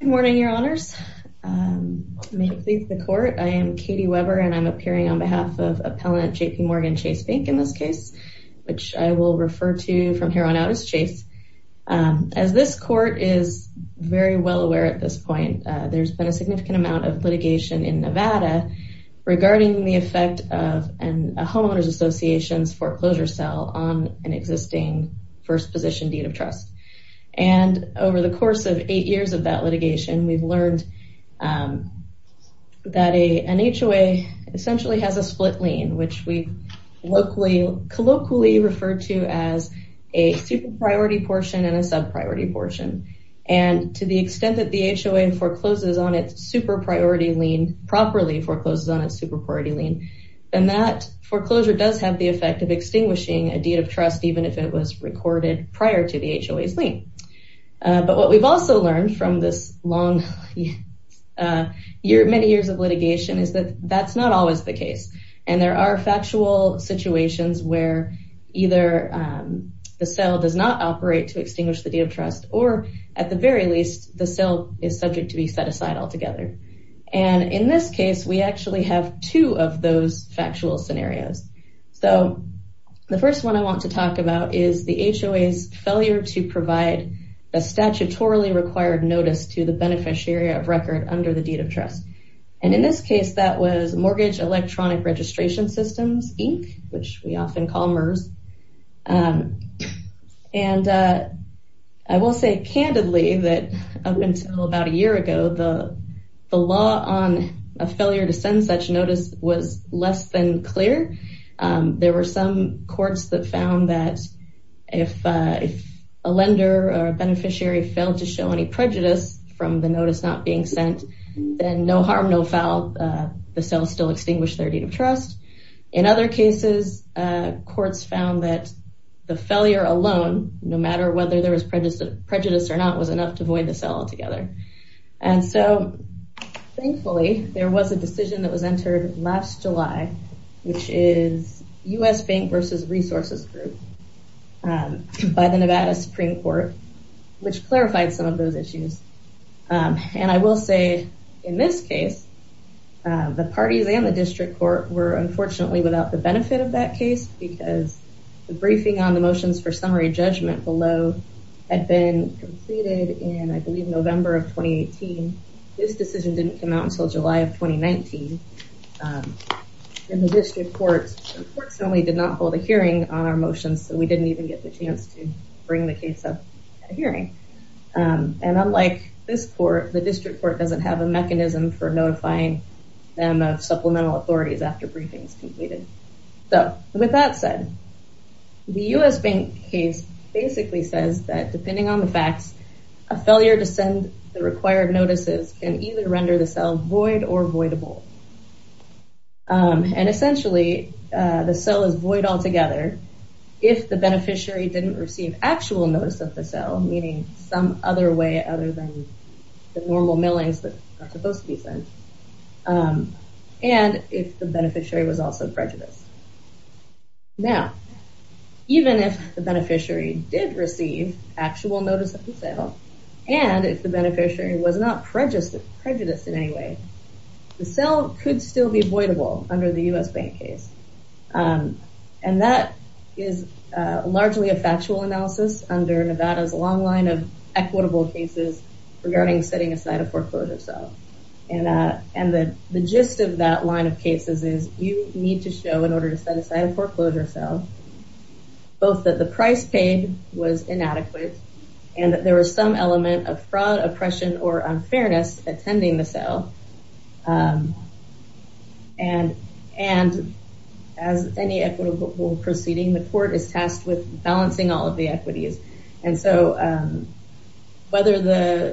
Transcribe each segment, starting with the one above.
Good morning, your honors. May it please the court. I am Katie Weber and I'm appearing on behalf of appellant JPMorgan Chase Bank in this case, which I will refer to from here on out as Chase. As this court is very well aware at this point, there's been a significant amount of litigation in Nevada regarding the effect of a homeowner's association's foreclosure sale on an existing first position deed of trust. And over the course of eight years of that litigation, we've learned that an HOA essentially has a split lien, which we locally, colloquially referred to as a super priority portion and a sub priority portion. And to the extent that the HOA forecloses on its super priority lien, properly forecloses on its super priority lien, then that foreclosure does have the effect of extinguishing a deed of trust even if it was recorded prior to the HOA's lien. But what we've also learned from this long year, many years of litigation is that that's not always the case. And there are factual situations where either the sale does not operate to extinguish the deed of trust, or at the very least, the sale is subject to be set aside altogether. And in this case, we actually have two of those factual scenarios. So the first one I want to talk about is the HOA's failure to provide a statutorily required notice to the beneficiary of record under the deed of trust. And in this case, that was Mortgage Electronic Registration Systems, Inc., which we often call MERS. And I will say candidly that up until about a year ago, the law on a failure to send such notice was less than clear. There were some courts that found that if a lender or beneficiary failed to show any prejudice from the notice not being sent, then no harm, no foul, the sale still extinguished their deed of trust. In other cases, courts found that the failure alone, no matter whether there was prejudice or not, was enough to void the sale altogether. And so thankfully, there was a decision that was entered last July, which is U.S. Bank versus Resources Group by the Nevada Supreme Court, which clarified some of those issues. And I will say, in this case, the parties and the district court were unfortunately without the benefit of that case, because the briefing on the motions for summary judgment below had been completed in, I believe, November of 2018. This decision didn't come out until July of 2019. And the district court unfortunately did not hold a hearing on our motions, so we didn't even get the chance to bring the case up at a hearing. And unlike this court, the district court doesn't have a mechanism for notifying them of supplemental authorities after briefings completed. So with that said, the U.S. Bank case basically says that depending on the facts, a failure to send the required notices can either render the sale void or voidable. And essentially, the sale is void altogether, if the beneficiary didn't receive actual notice of the sale, meaning some other way other than the normal millings that are supposed to be sent, and if the beneficiary was also prejudiced. Now, even if the beneficiary did receive actual notice of the sale, and if the beneficiary was prejudiced in any way, the sale could still be voidable under the U.S. Bank case. And that is largely a factual analysis under Nevada's long line of equitable cases regarding setting aside a foreclosure sale. And the gist of that line of cases is you need to show in order to set aside a foreclosure sale, both that the price paid was inadequate, and that there was some element of fraud, oppression, or unfairness attending the sale. And as any equitable proceeding, the court is tasked with balancing all of the equities. And so whether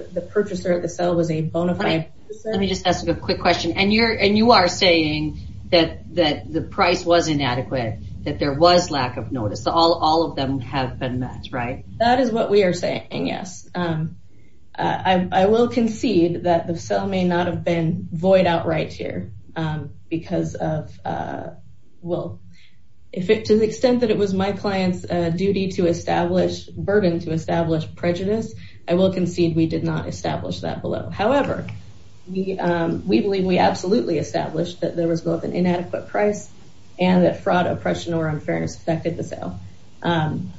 the purchaser of the sale was a bona fide purchaser... Let me just ask you a quick question. And you are saying that the price was inadequate, that there was lack of notice, so all of them have been met, right? That is what we are saying, yes. I will concede that the sale may not have been void outright here, because of, well, to the extent that it was my client's duty to establish, burden to establish prejudice, I will concede we did not establish that below. However, we believe we absolutely established that there was both an inadequate price, and that fraud, oppression, or unfairness affected the sale. And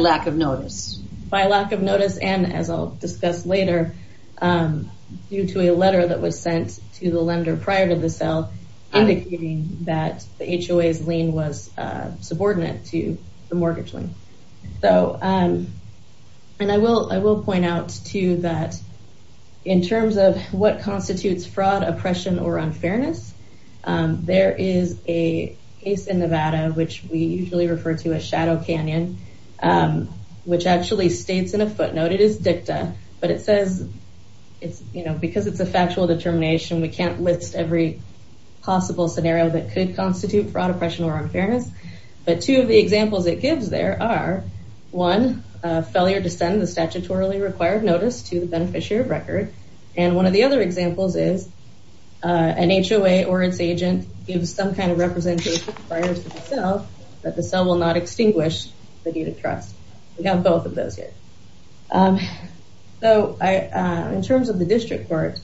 lack of notice. By lack of notice, and as I'll discuss later, due to a letter that was sent to the lender prior to the sale, indicating that the HOA's lien was subordinate to the mortgage lien. So, and I will point out too that in terms of what constitutes fraud, oppression, or unfairness, there is a case in Nevada, which we usually refer to as Shadow Canyon, which actually states in a footnote, it is dicta, but it says it's, you know, because it's a factual determination, we can't list every possible scenario that could constitute fraud, oppression, or unfairness. But two of the examples it gives there are, one, failure to send the statutorily required notice to the beneficiary of record. And one of the other examples is an HOA or its agent gives some kind of representation prior to the sale, that the sale will not extinguish the deed of trust. We have both of those here. So I, in terms of the district court.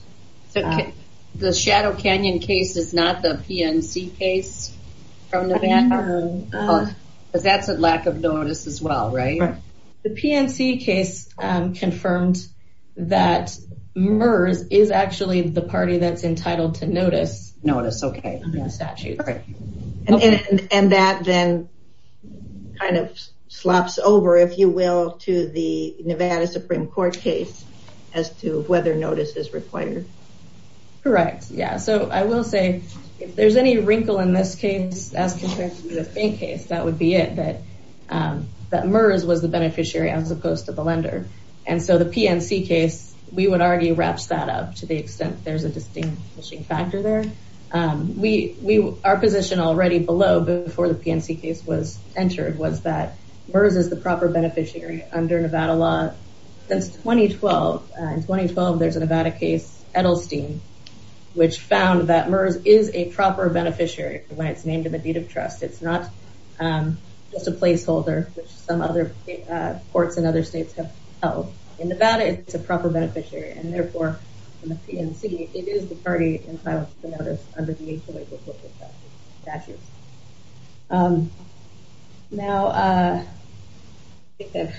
The Shadow Canyon case is not the PNC case from Nevada? Because that's a lack of notice as well, right? Right. The PNC case confirmed that MERS is actually the party that's entitled to notice. Notice, okay. Statute, right. And that then kind of slops over, if you will, to the Nevada Supreme Court case, as to whether notice is required. Correct. Yeah. So I will say, if there's any wrinkle in this case, as compared to the Faint case, that would be it that, that MERS was the beneficiary as opposed to the lender. And so the PNC case, we would argue wraps that up to the extent there's a distinguishing factor there. We, our position already below before the PNC case was entered was that MERS is the proper beneficiary under Nevada law. Since 2012, in 2012, there's a Nevada case, Edelstein, which found that MERS is a proper beneficiary when it's named in the deed of trust. It's not just a placeholder, which some other courts in other states have held. In Nevada, it's a proper beneficiary. And it is the party entitled to the notice under the HOA's report for statute. Now, I think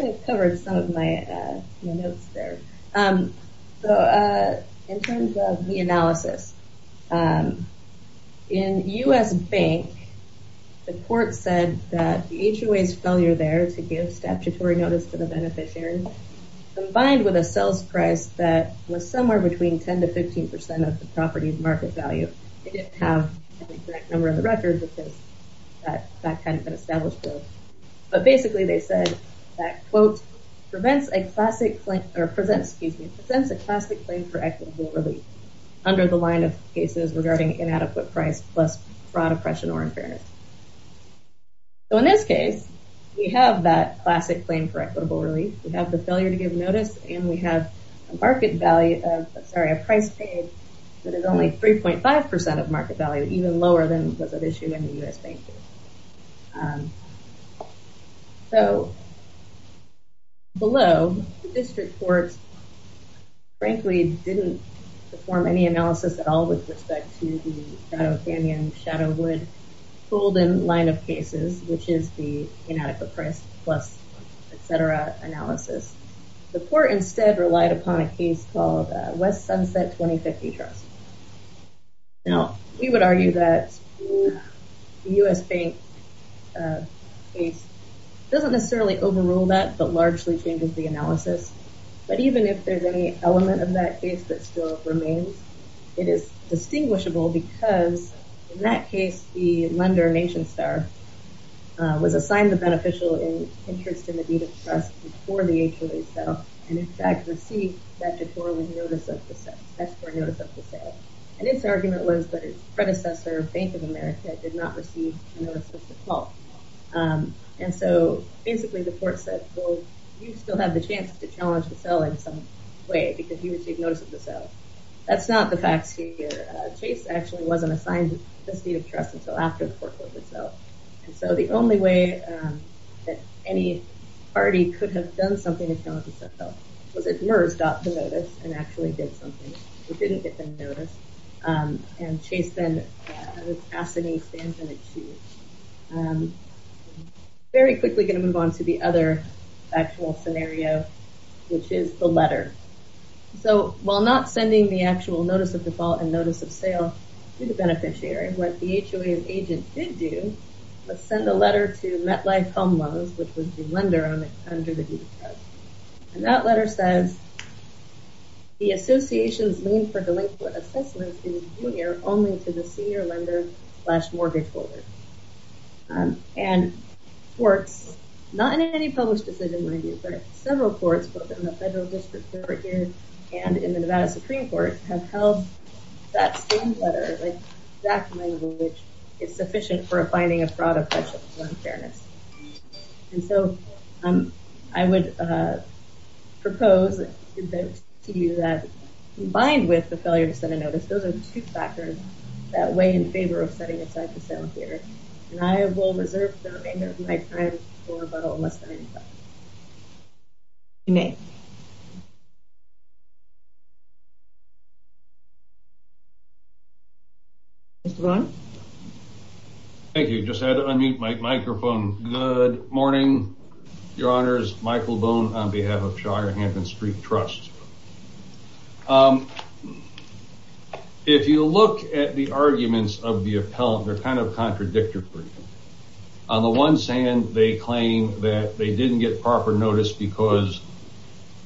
I've covered some of my notes there. So in terms of the analysis, in US Bank, the court said that the HOA's failure there to give statutory notice to the beneficiary, combined with a sales price that was somewhere between 10 to 15% of the property's market value, they didn't have the correct number of the records because that hadn't been established. But basically, they said that quote, prevents a classic claim or presents a classic claim for equitable relief under the line of cases regarding inadequate price plus fraud, oppression or unfairness. So in this case, we have that classic claim for equitable relief, we have the market value, sorry, a price paid, that is only 3.5% of market value, even lower than what's at issue in the US Bank. So below, the district courts, frankly, didn't perform any analysis at all with respect to the Shadow Canyon, Shadow Wood Golden line of cases, which is the inadequate price plus, etc. analysis. The court instead relied upon a case called West Sunset 2050 Trust. Now, we would argue that the US Bank case doesn't necessarily overrule that but largely changes the analysis. But even if there's any element of that case that still remains, it is distinguishable because in that case, the lender NationStar was assigned the beneficial interest in the deed of trust for the HOA sale, and in fact, received that deferral notice of the sale. And its argument was that its predecessor, Bank of America did not receive a notice at all. And so basically, the court said, well, you still have the chance to challenge the sale in some way, because you received notice of the sale. That's not the facts here. Chase actually wasn't assigned this deed of trust until after the court itself. And so the only way that any party could have done something to challenge the sale was if MERS got the notice and actually did something. We didn't get the notice. And Chase then ascended and achieved. Very quickly going to move on to the other actual scenario, which is the letter. So while not sending the actual notice of default and notice of sale to the do, let's send a letter to MetLife Home Loans, which was the lender under the deed of trust. And that letter says, the associations lean for delinquent assessments in junior only to the senior lender slash mortgage holder. And courts, not in any published decision review, but several courts, both in the federal district here, and in the Nevada Supreme Court have that same letter, that language is sufficient for a binding of fraud, oppression, and unfairness. And so I would propose to you that combined with the failure to send a notice, those are the two factors that weigh in favor of setting aside the sale here. And I will reserve the remainder of my time for a little less than a minute. Thank you. Just had to unmute my microphone. Good morning, your honors. Michael Boone on behalf of Shire Hampton Street Trusts. If you look at the arguments of the appellant, they're kind of contradictory. On the one hand, they claim that they didn't get proper notice because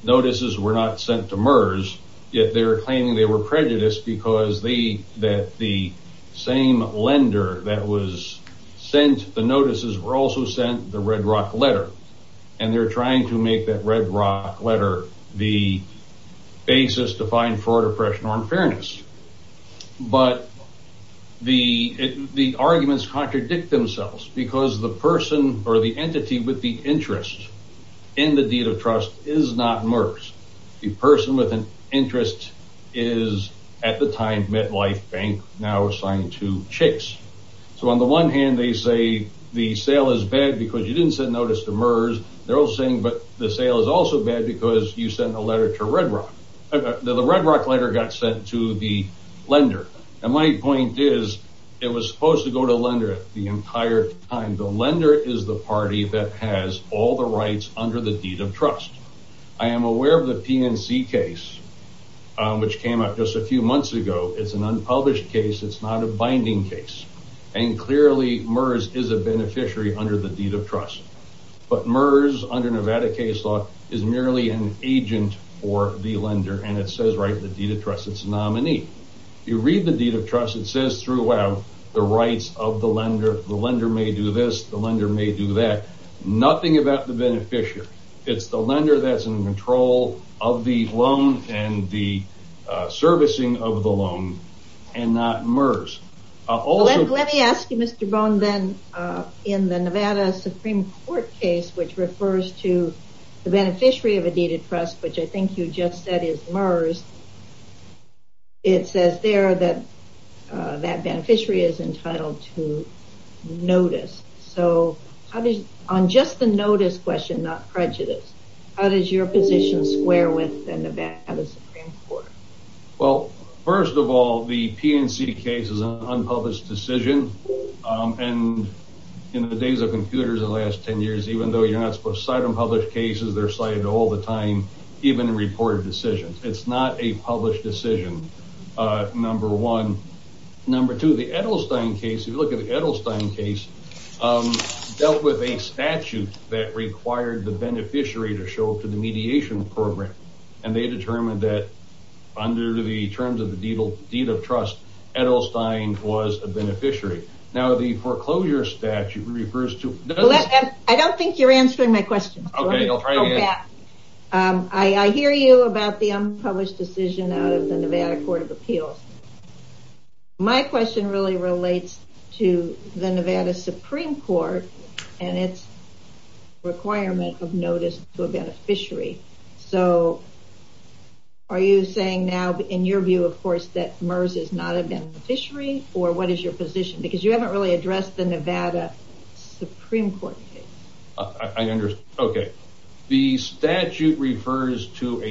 notices were not sent to MERS, yet they're claiming they were prejudiced against the because the same lender that was sent the notices were also sent the Red Rock letter. And they're trying to make that Red Rock letter the basis to find fraud, oppression, or unfairness. But the arguments contradict themselves because the person or the entity with the interest in the deed of at the time MetLife Bank now assigned to Chase. So on the one hand, they say the sale is bad because you didn't send notice to MERS. They're all saying but the sale is also bad because you sent a letter to Red Rock. The Red Rock letter got sent to the lender. And my point is, it was supposed to go to lender the entire time. The lender is the party that has all the rights under the deed of trust. I am aware of the PNC case, which came out just a few months ago. It's an unpublished case. It's not a binding case. And clearly MERS is a beneficiary under the deed of trust. But MERS under Nevada case law is merely an agent for the lender. And it says right in the deed of trust, it's nominee. You read the deed of trust, it says throughout the rights of the lender, the lender may do this, the lender may do that. Nothing about the control of the loan and the servicing of the loan, and not MERS. Let me ask you, Mr. Bone, then, in the Nevada Supreme Court case, which refers to the beneficiary of a deed of trust, which I think you just said is MERS. It says there that that beneficiary is entitled to notice. So on just the notice question, not prejudice. How does your position square with the Nevada Supreme Court? Well, first of all, the PNC case is an unpublished decision. And in the days of computers, the last 10 years, even though you're not supposed to cite unpublished cases, they're cited all the time, even in reported decisions. It's not a published decision. Number one. Number two, the Edelstein case, if you with a statute that required the beneficiary to show up to the mediation program, and they determined that under the terms of the deed of trust, Edelstein was a beneficiary. Now the foreclosure statute refers to I don't think you're answering my question. I hear you about the unpublished decision out of the Nevada Court of Appeals. My And it's requirement of notice to a beneficiary. So are you saying now, in your view, of course, that MERS is not a beneficiary? Or what is your position? Because you haven't really addressed the Nevada Supreme Court. I understand. Okay. The statute refers to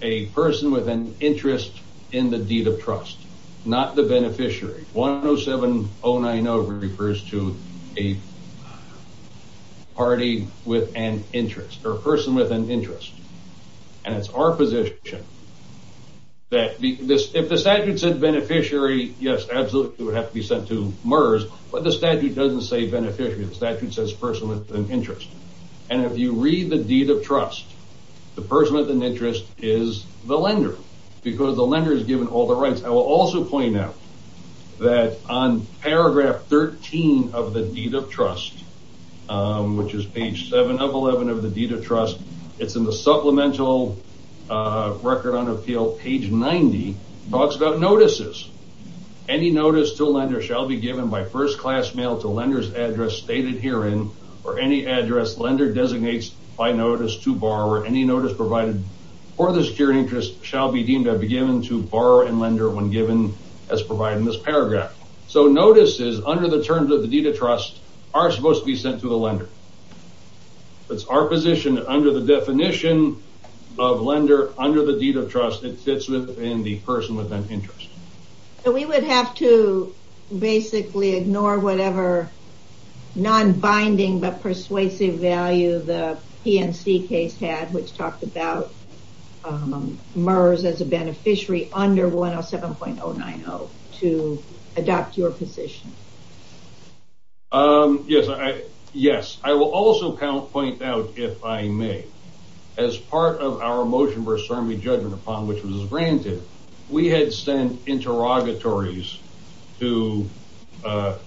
a person with an interest in the deed of trust, not the beneficiary. 107090 refers to a party with an interest or person with an interest. And it's our position that this if the statute said beneficiary, yes, absolutely would have to be sent to MERS. But the statute doesn't say beneficiary. The statute says person with an interest. And if you read the deed of trust, the person with an interest is the lender, because the lender is given all the rights. I will also point out that on paragraph 13 of the deed of trust, which is page seven of 11 of the deed of trust, it's in the supplemental record on appeal page 90 talks about notices. Any notice to a lender shall be given by first class mail to lenders address stated herein or any address lender designates by notice to borrower any notice provided for the security interest shall be deemed to be given to borrower and lender when given as provided in this under the terms of the deed of trust are supposed to be sent to the lender. That's our position under the definition of lender under the deed of trust that sits within the person with an interest. So we would have to basically ignore whatever non binding but persuasive value the PNC case had, which talked about MERS as a beneficiary under 107090 to adopt your position. Um, yes, I, yes, I will also count point out if I may, as part of our motion versus army judgment upon which was granted, we had sent interrogatories to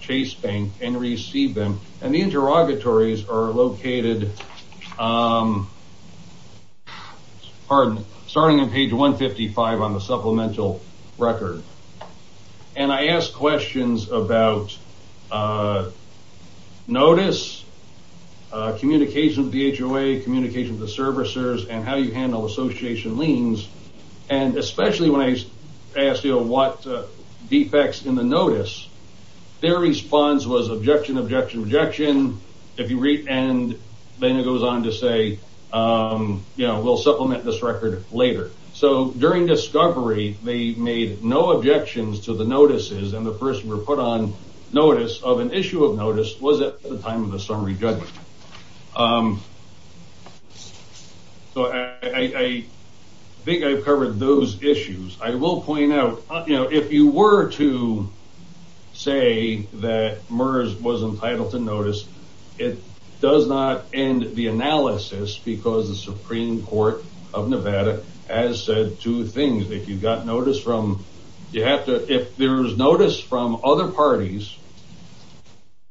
Chase Bank and receive them. And the interrogatories are located. Pardon, starting on page 155 on a supplemental record. And I asked questions about, uh, notice, uh, communication with the HOA, communication with the servicers and how you handle association liens. And especially when I asked you what defects in the notice, their response was objection, objection, objection. If you read and then it goes on to say, um, you know, we'll supplement this record later. So during discovery, they made no objections to the notices. And the first report on notice of an issue of notice was at the time of the summary judgment. Um, so I think I've covered those issues. I will point out, you know, if you were to say that MERS was entitled to notice, it would be a violation of Nevada, as said, two things. If you've got notice from, you have to, if there's notice from other parties,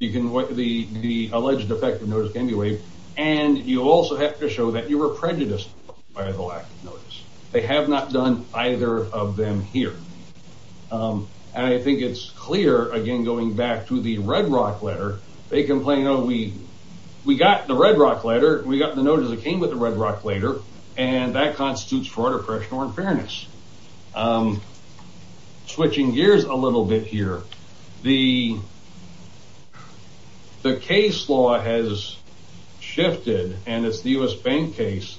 you can, what the, the alleged effect of notice can be waived. And you also have to show that you were prejudiced by the lack of notice. They have not done either of them here. Um, and I think it's clear again, going back to the Red Rock letter, they complain, oh, we, we got the Red Rock letter. We got the Red Rock letter. That constitutes fraud, oppression, or unfairness. Um, switching gears a little bit here. The, the case law has shifted and it's the U.S. Bank case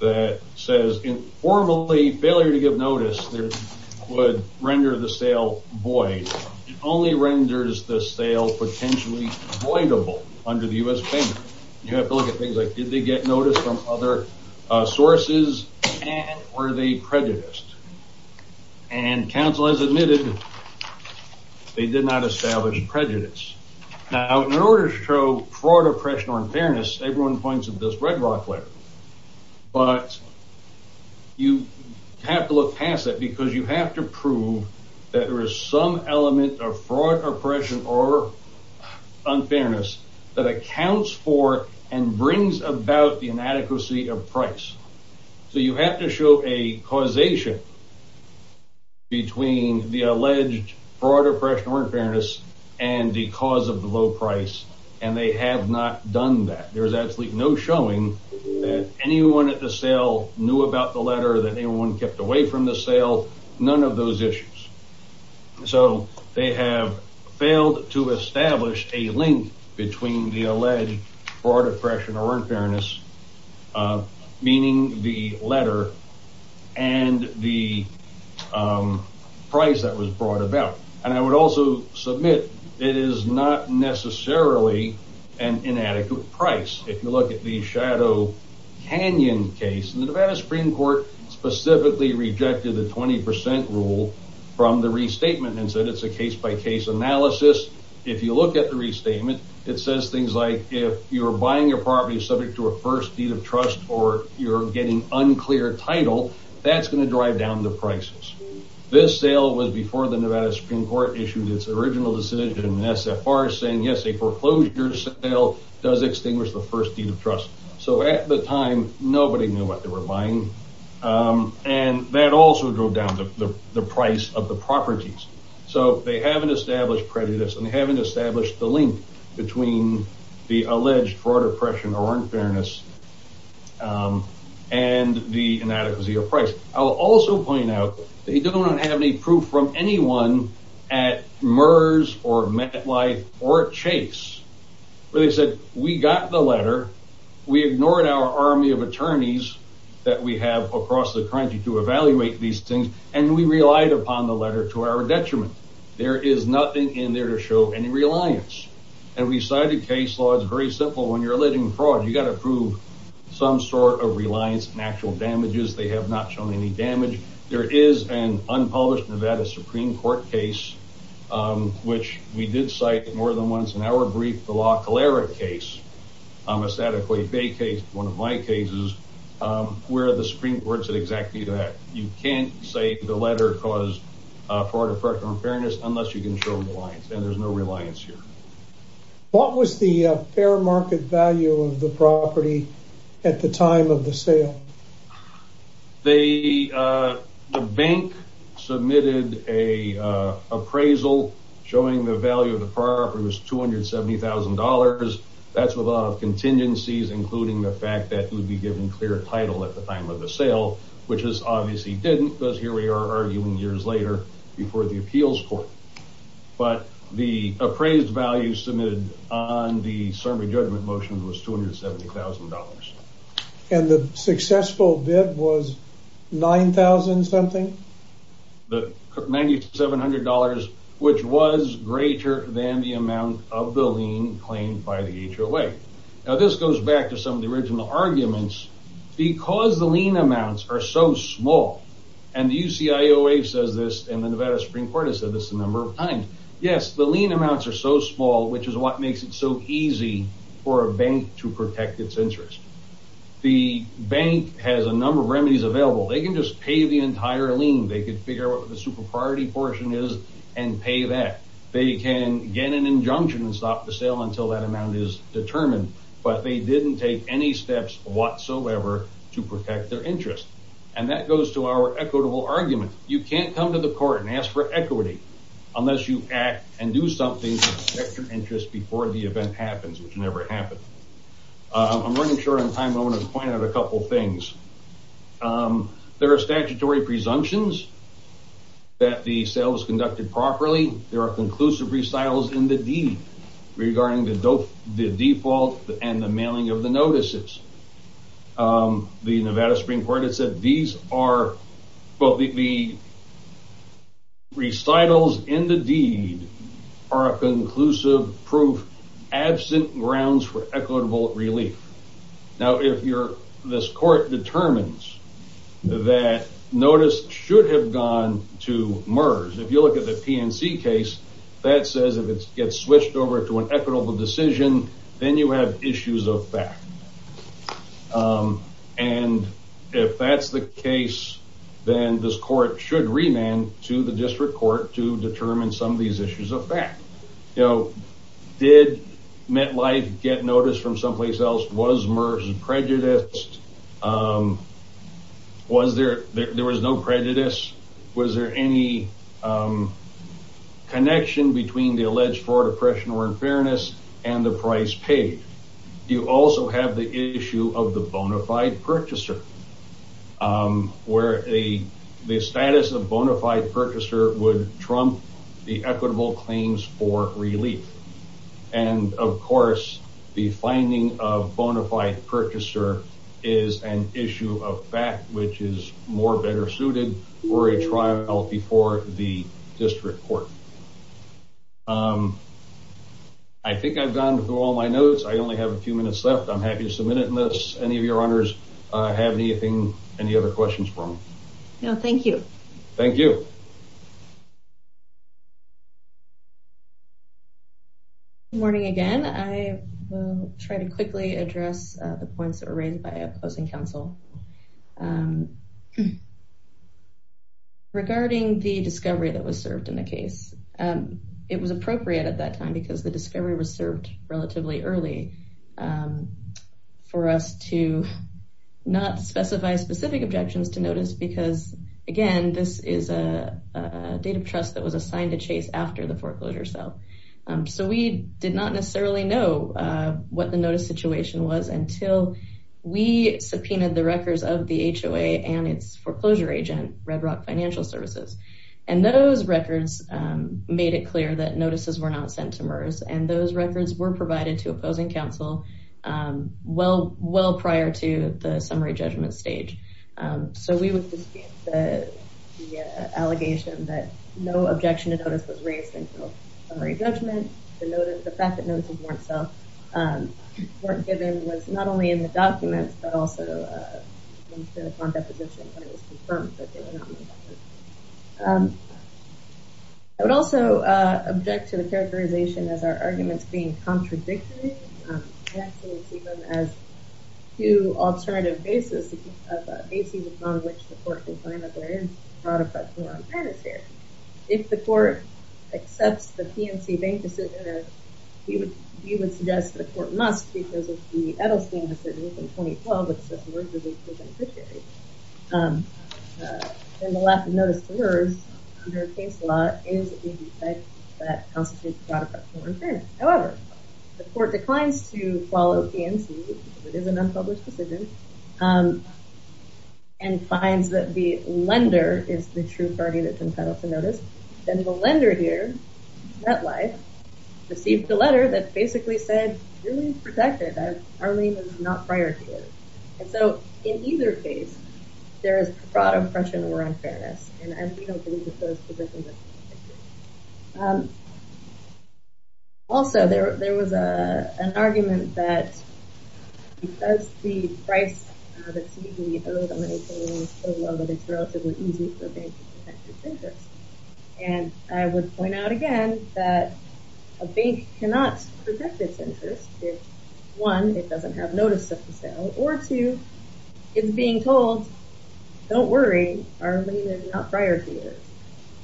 that says informally failure to give notice there would render the sale void. It only renders the sale potentially voidable under the U.S. Bank. You have to look at things like, did they get notice from other sources and were they prejudiced? And counsel has admitted they did not establish prejudice. Now in order to show fraud, oppression, or unfairness, everyone points at this Red Rock letter, but you have to look past that because you have to prove that there is some element of fraud, oppression, or unfairness that accounts for and brings about the inadequacy of price. So you have to show a causation between the alleged fraud, oppression, or unfairness, and the cause of the low price. And they have not done that. There was absolutely no showing that anyone at the sale knew about the letter that anyone kept away from the sale, none of those issues. So they have failed to establish a link between the alleged fraud, oppression, or unfairness, meaning the letter and the price that was brought about. And I would also submit it is not necessarily an inadequate price. If you look at the Shadow Canyon case, the Nevada Supreme Court specifically rejected the 20% rule from the restatement and said it's a case by case analysis. If you look at the restatement, it says things like if you're buying your property subject to a first deed of trust or you're getting unclear title, that's going to drive down the prices. This sale was before the Nevada Supreme Court issued its original decision in SFR saying yes, a foreclosure sale does extinguish the first deed of trust. So at the time, nobody knew what they were buying. And that also drove down the price of the properties. So they haven't established prejudice and they haven't established the link between the alleged fraud, oppression, or unfairness and the inadequacy of price. I'll also point out they don't have any proof from anyone at MERS or MetLife or Chase where they said we got the letter, we ignored our army of attorneys that we have across the country to evaluate these things. And we relied upon the letter to our detriment. There is nothing in there to show any reliance. And we cited case law, it's very simple when you're alluding fraud, you got to prove some sort of reliance and actual damages, they have not shown any damage. There is an unpublished Nevada Supreme Court case, which we did cite more than once in our brief, the La Calera case, a Satterquay Bay case, one of my cases, where the Supreme Court said exactly that you can't say the letter cause fraud, oppression, unfairness, unless you can show reliance and there's no reliance here. What was the fair market value of the property at the time of the sale? The bank submitted a appraisal showing the value of the property was $270,000. That's with a lot of contingencies, including the fact that it would be given clear title at the time of the sale, which is obviously didn't because here we are arguing years later before the appeals court. But the appraised value submitted on the summary judgment motion was $270,000. And the successful bid was 9000 something? The $9700, which was greater than the amount of the lien claimed by the HOA. Now this goes back to some of the original arguments, because the lien amounts are so small. And the UCIOA says this and the Nevada Supreme Court has said this a number of times. Yes, the lien amounts are so small, which is what makes it so easy for a bank to protect its interest. The bank has a number of remedies available, they can just pay the entire lien, they could figure out what the super priority portion is, and pay that they can get an injunction and stop the sale until that amount is determined. But they didn't take any steps whatsoever to protect their interest. And that goes to our equitable argument, you can't come to the court and ask for equity, unless you act and do something to protect your interest before the event happens, which never happened. I'm running short on time, I want to point out a couple things. There are statutory presumptions that the sales conducted properly, there are conclusive recitals in the deed regarding the default and the mailing of the notices. The Nevada Supreme Court has said these are both the recitals in the deed are a conclusive proof, absent grounds for equitable relief. Now if this court determines that notice should have gone to MERS, if you look at the PNC case, that says if it gets switched over to an equitable decision, then you have issues of fact. And if that's the case, then this court should remand to the district court to determine some of these sales was MERS prejudiced? Was there there was no prejudice? Was there any connection between the alleged fraud, oppression or unfairness and the price paid? You also have the issue of the bona fide purchaser where the status of bona fide purchaser would trump the equitable claims for relief. And of course, the finding of bona fide purchaser is an issue of fact, which is more better suited for a trial before the district court. I think I've gone through all my notes. I only have a few minutes left. I'm happy to submit it unless any of your honors have anything, any other questions for me? No, thank you. Thank you. Good morning, again, I will try to quickly address the points that were raised by opposing counsel. Regarding the discovery that was served in the case, it was appropriate at that time, because the discovery was served relatively early for us to not specify specific objections to notice because, again, this is a trust that was assigned to chase after the foreclosure itself. So we did not necessarily know what the notice situation was until we subpoenaed the records of the HOA and its foreclosure agent, Red Rock Financial Services. And those records made it clear that notices were not sent to MERS. And those records were provided to opposing counsel well, well prior to the summary judgment stage. So we would dispute the allegation that no objection to notice was raised until summary judgment. The fact that notes were given was not only in the documents, but also in the contact position when it was confirmed that they were not in the documents. I would also object to the characterization as our arguments being contradictory. I actually see them as two alternative bases, bases upon which the court can find that there is fraud, fraud, or unfairness here. If the court accepts the PNC Bank decision, we would suggest that the court must because of the Edelstein decision in 2012, which says Merz is a proven fiduciary. And the lack of notice to MERS under case law is a defect that constitutes fraud, fraud, or it is an unpublished decision and finds that the lender is the true party that's entitled to notice. Then the lender here, MetLife, received a letter that basically said, your name is protected. Our name is not prioritized. And so in either case, there is fraud, oppression, or unfairness. And I don't believe that those positions are protected. Also, there was a an argument that because the price, the TVO dominates, it's relatively easy for a bank to protect its interest. And I would point out again, that a bank cannot protect its interest if one, it doesn't have notice of the sale or two, it's being told, don't worry, our lien is not prior to yours.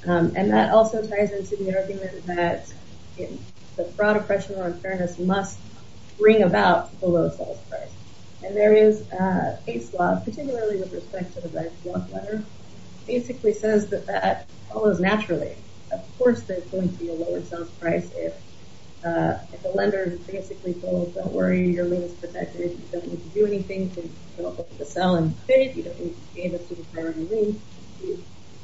And that also ties into the argument that in the fraud oppression or unfairness must bring about the low sales price. And there is a case law, particularly with respect to the right to want letter, basically says that that follows naturally. Of course, there's going to be a lower sales price if the lender basically told, don't worry, your lien is protected, you don't need to do anything to sell and pay, you don't need to gain a super high lien.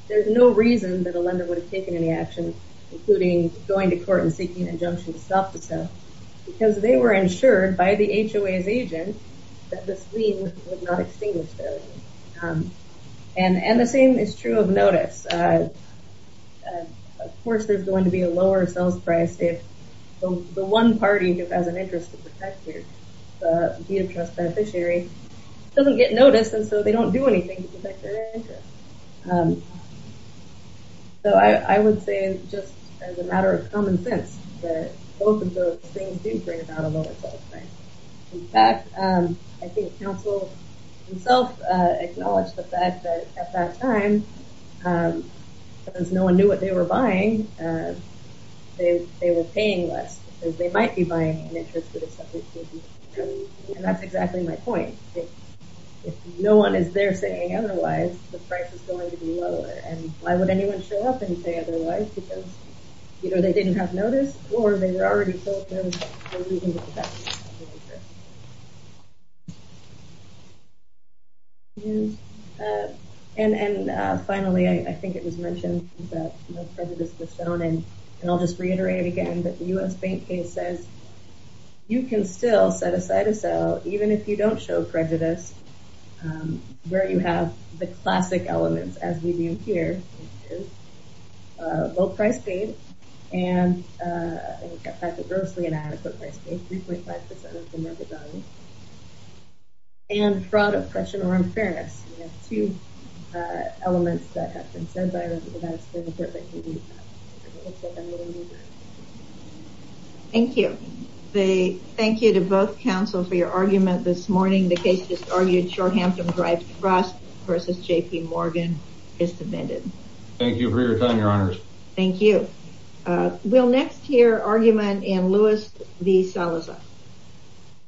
There's no reason that a lender would have taken any action, including going to court and seeking injunction to stop the sale, because they were insured by the HOA's agent, that this lien would not extinguish their lien. And the same is true of notice. Of course, there's going to be a lower sales price if the one party who has an interest to protect your deed of trust beneficiary doesn't get noticed, and so they don't do anything to protect their lien. So I would say, just as a matter of common sense, that both of those things do bring about a lower sales price. In fact, I think counsel himself acknowledged the fact that at that time, because no one knew what they were buying, they were paying less, because they might be buying an interest that is subject to, and that's exactly my point. If no one is there saying otherwise, the price is going to be lower. And why would anyone show up and say otherwise, because either they didn't have notice, or they were already told there was a reason to protect their interest. And finally, I think it was mentioned that prejudice was shown, and I'll just reiterate it again, that the U.S. Bank case says, you can still set aside a sale, even if you don't show prejudice, where you have the classic elements, as we do here, low price paid, and grossly inadequate price paid, 3.5% of the market value, and fraud, oppression, or unfairness. We have two elements that have been discussed. Thank you. Thank you to both counsel for your argument this morning. The case just argued Shorehampton Drive Trust versus JP Morgan is submitted. Thank you for your time, Your Honors. Thank you. We'll next hear argument in Lewis v. Salazar.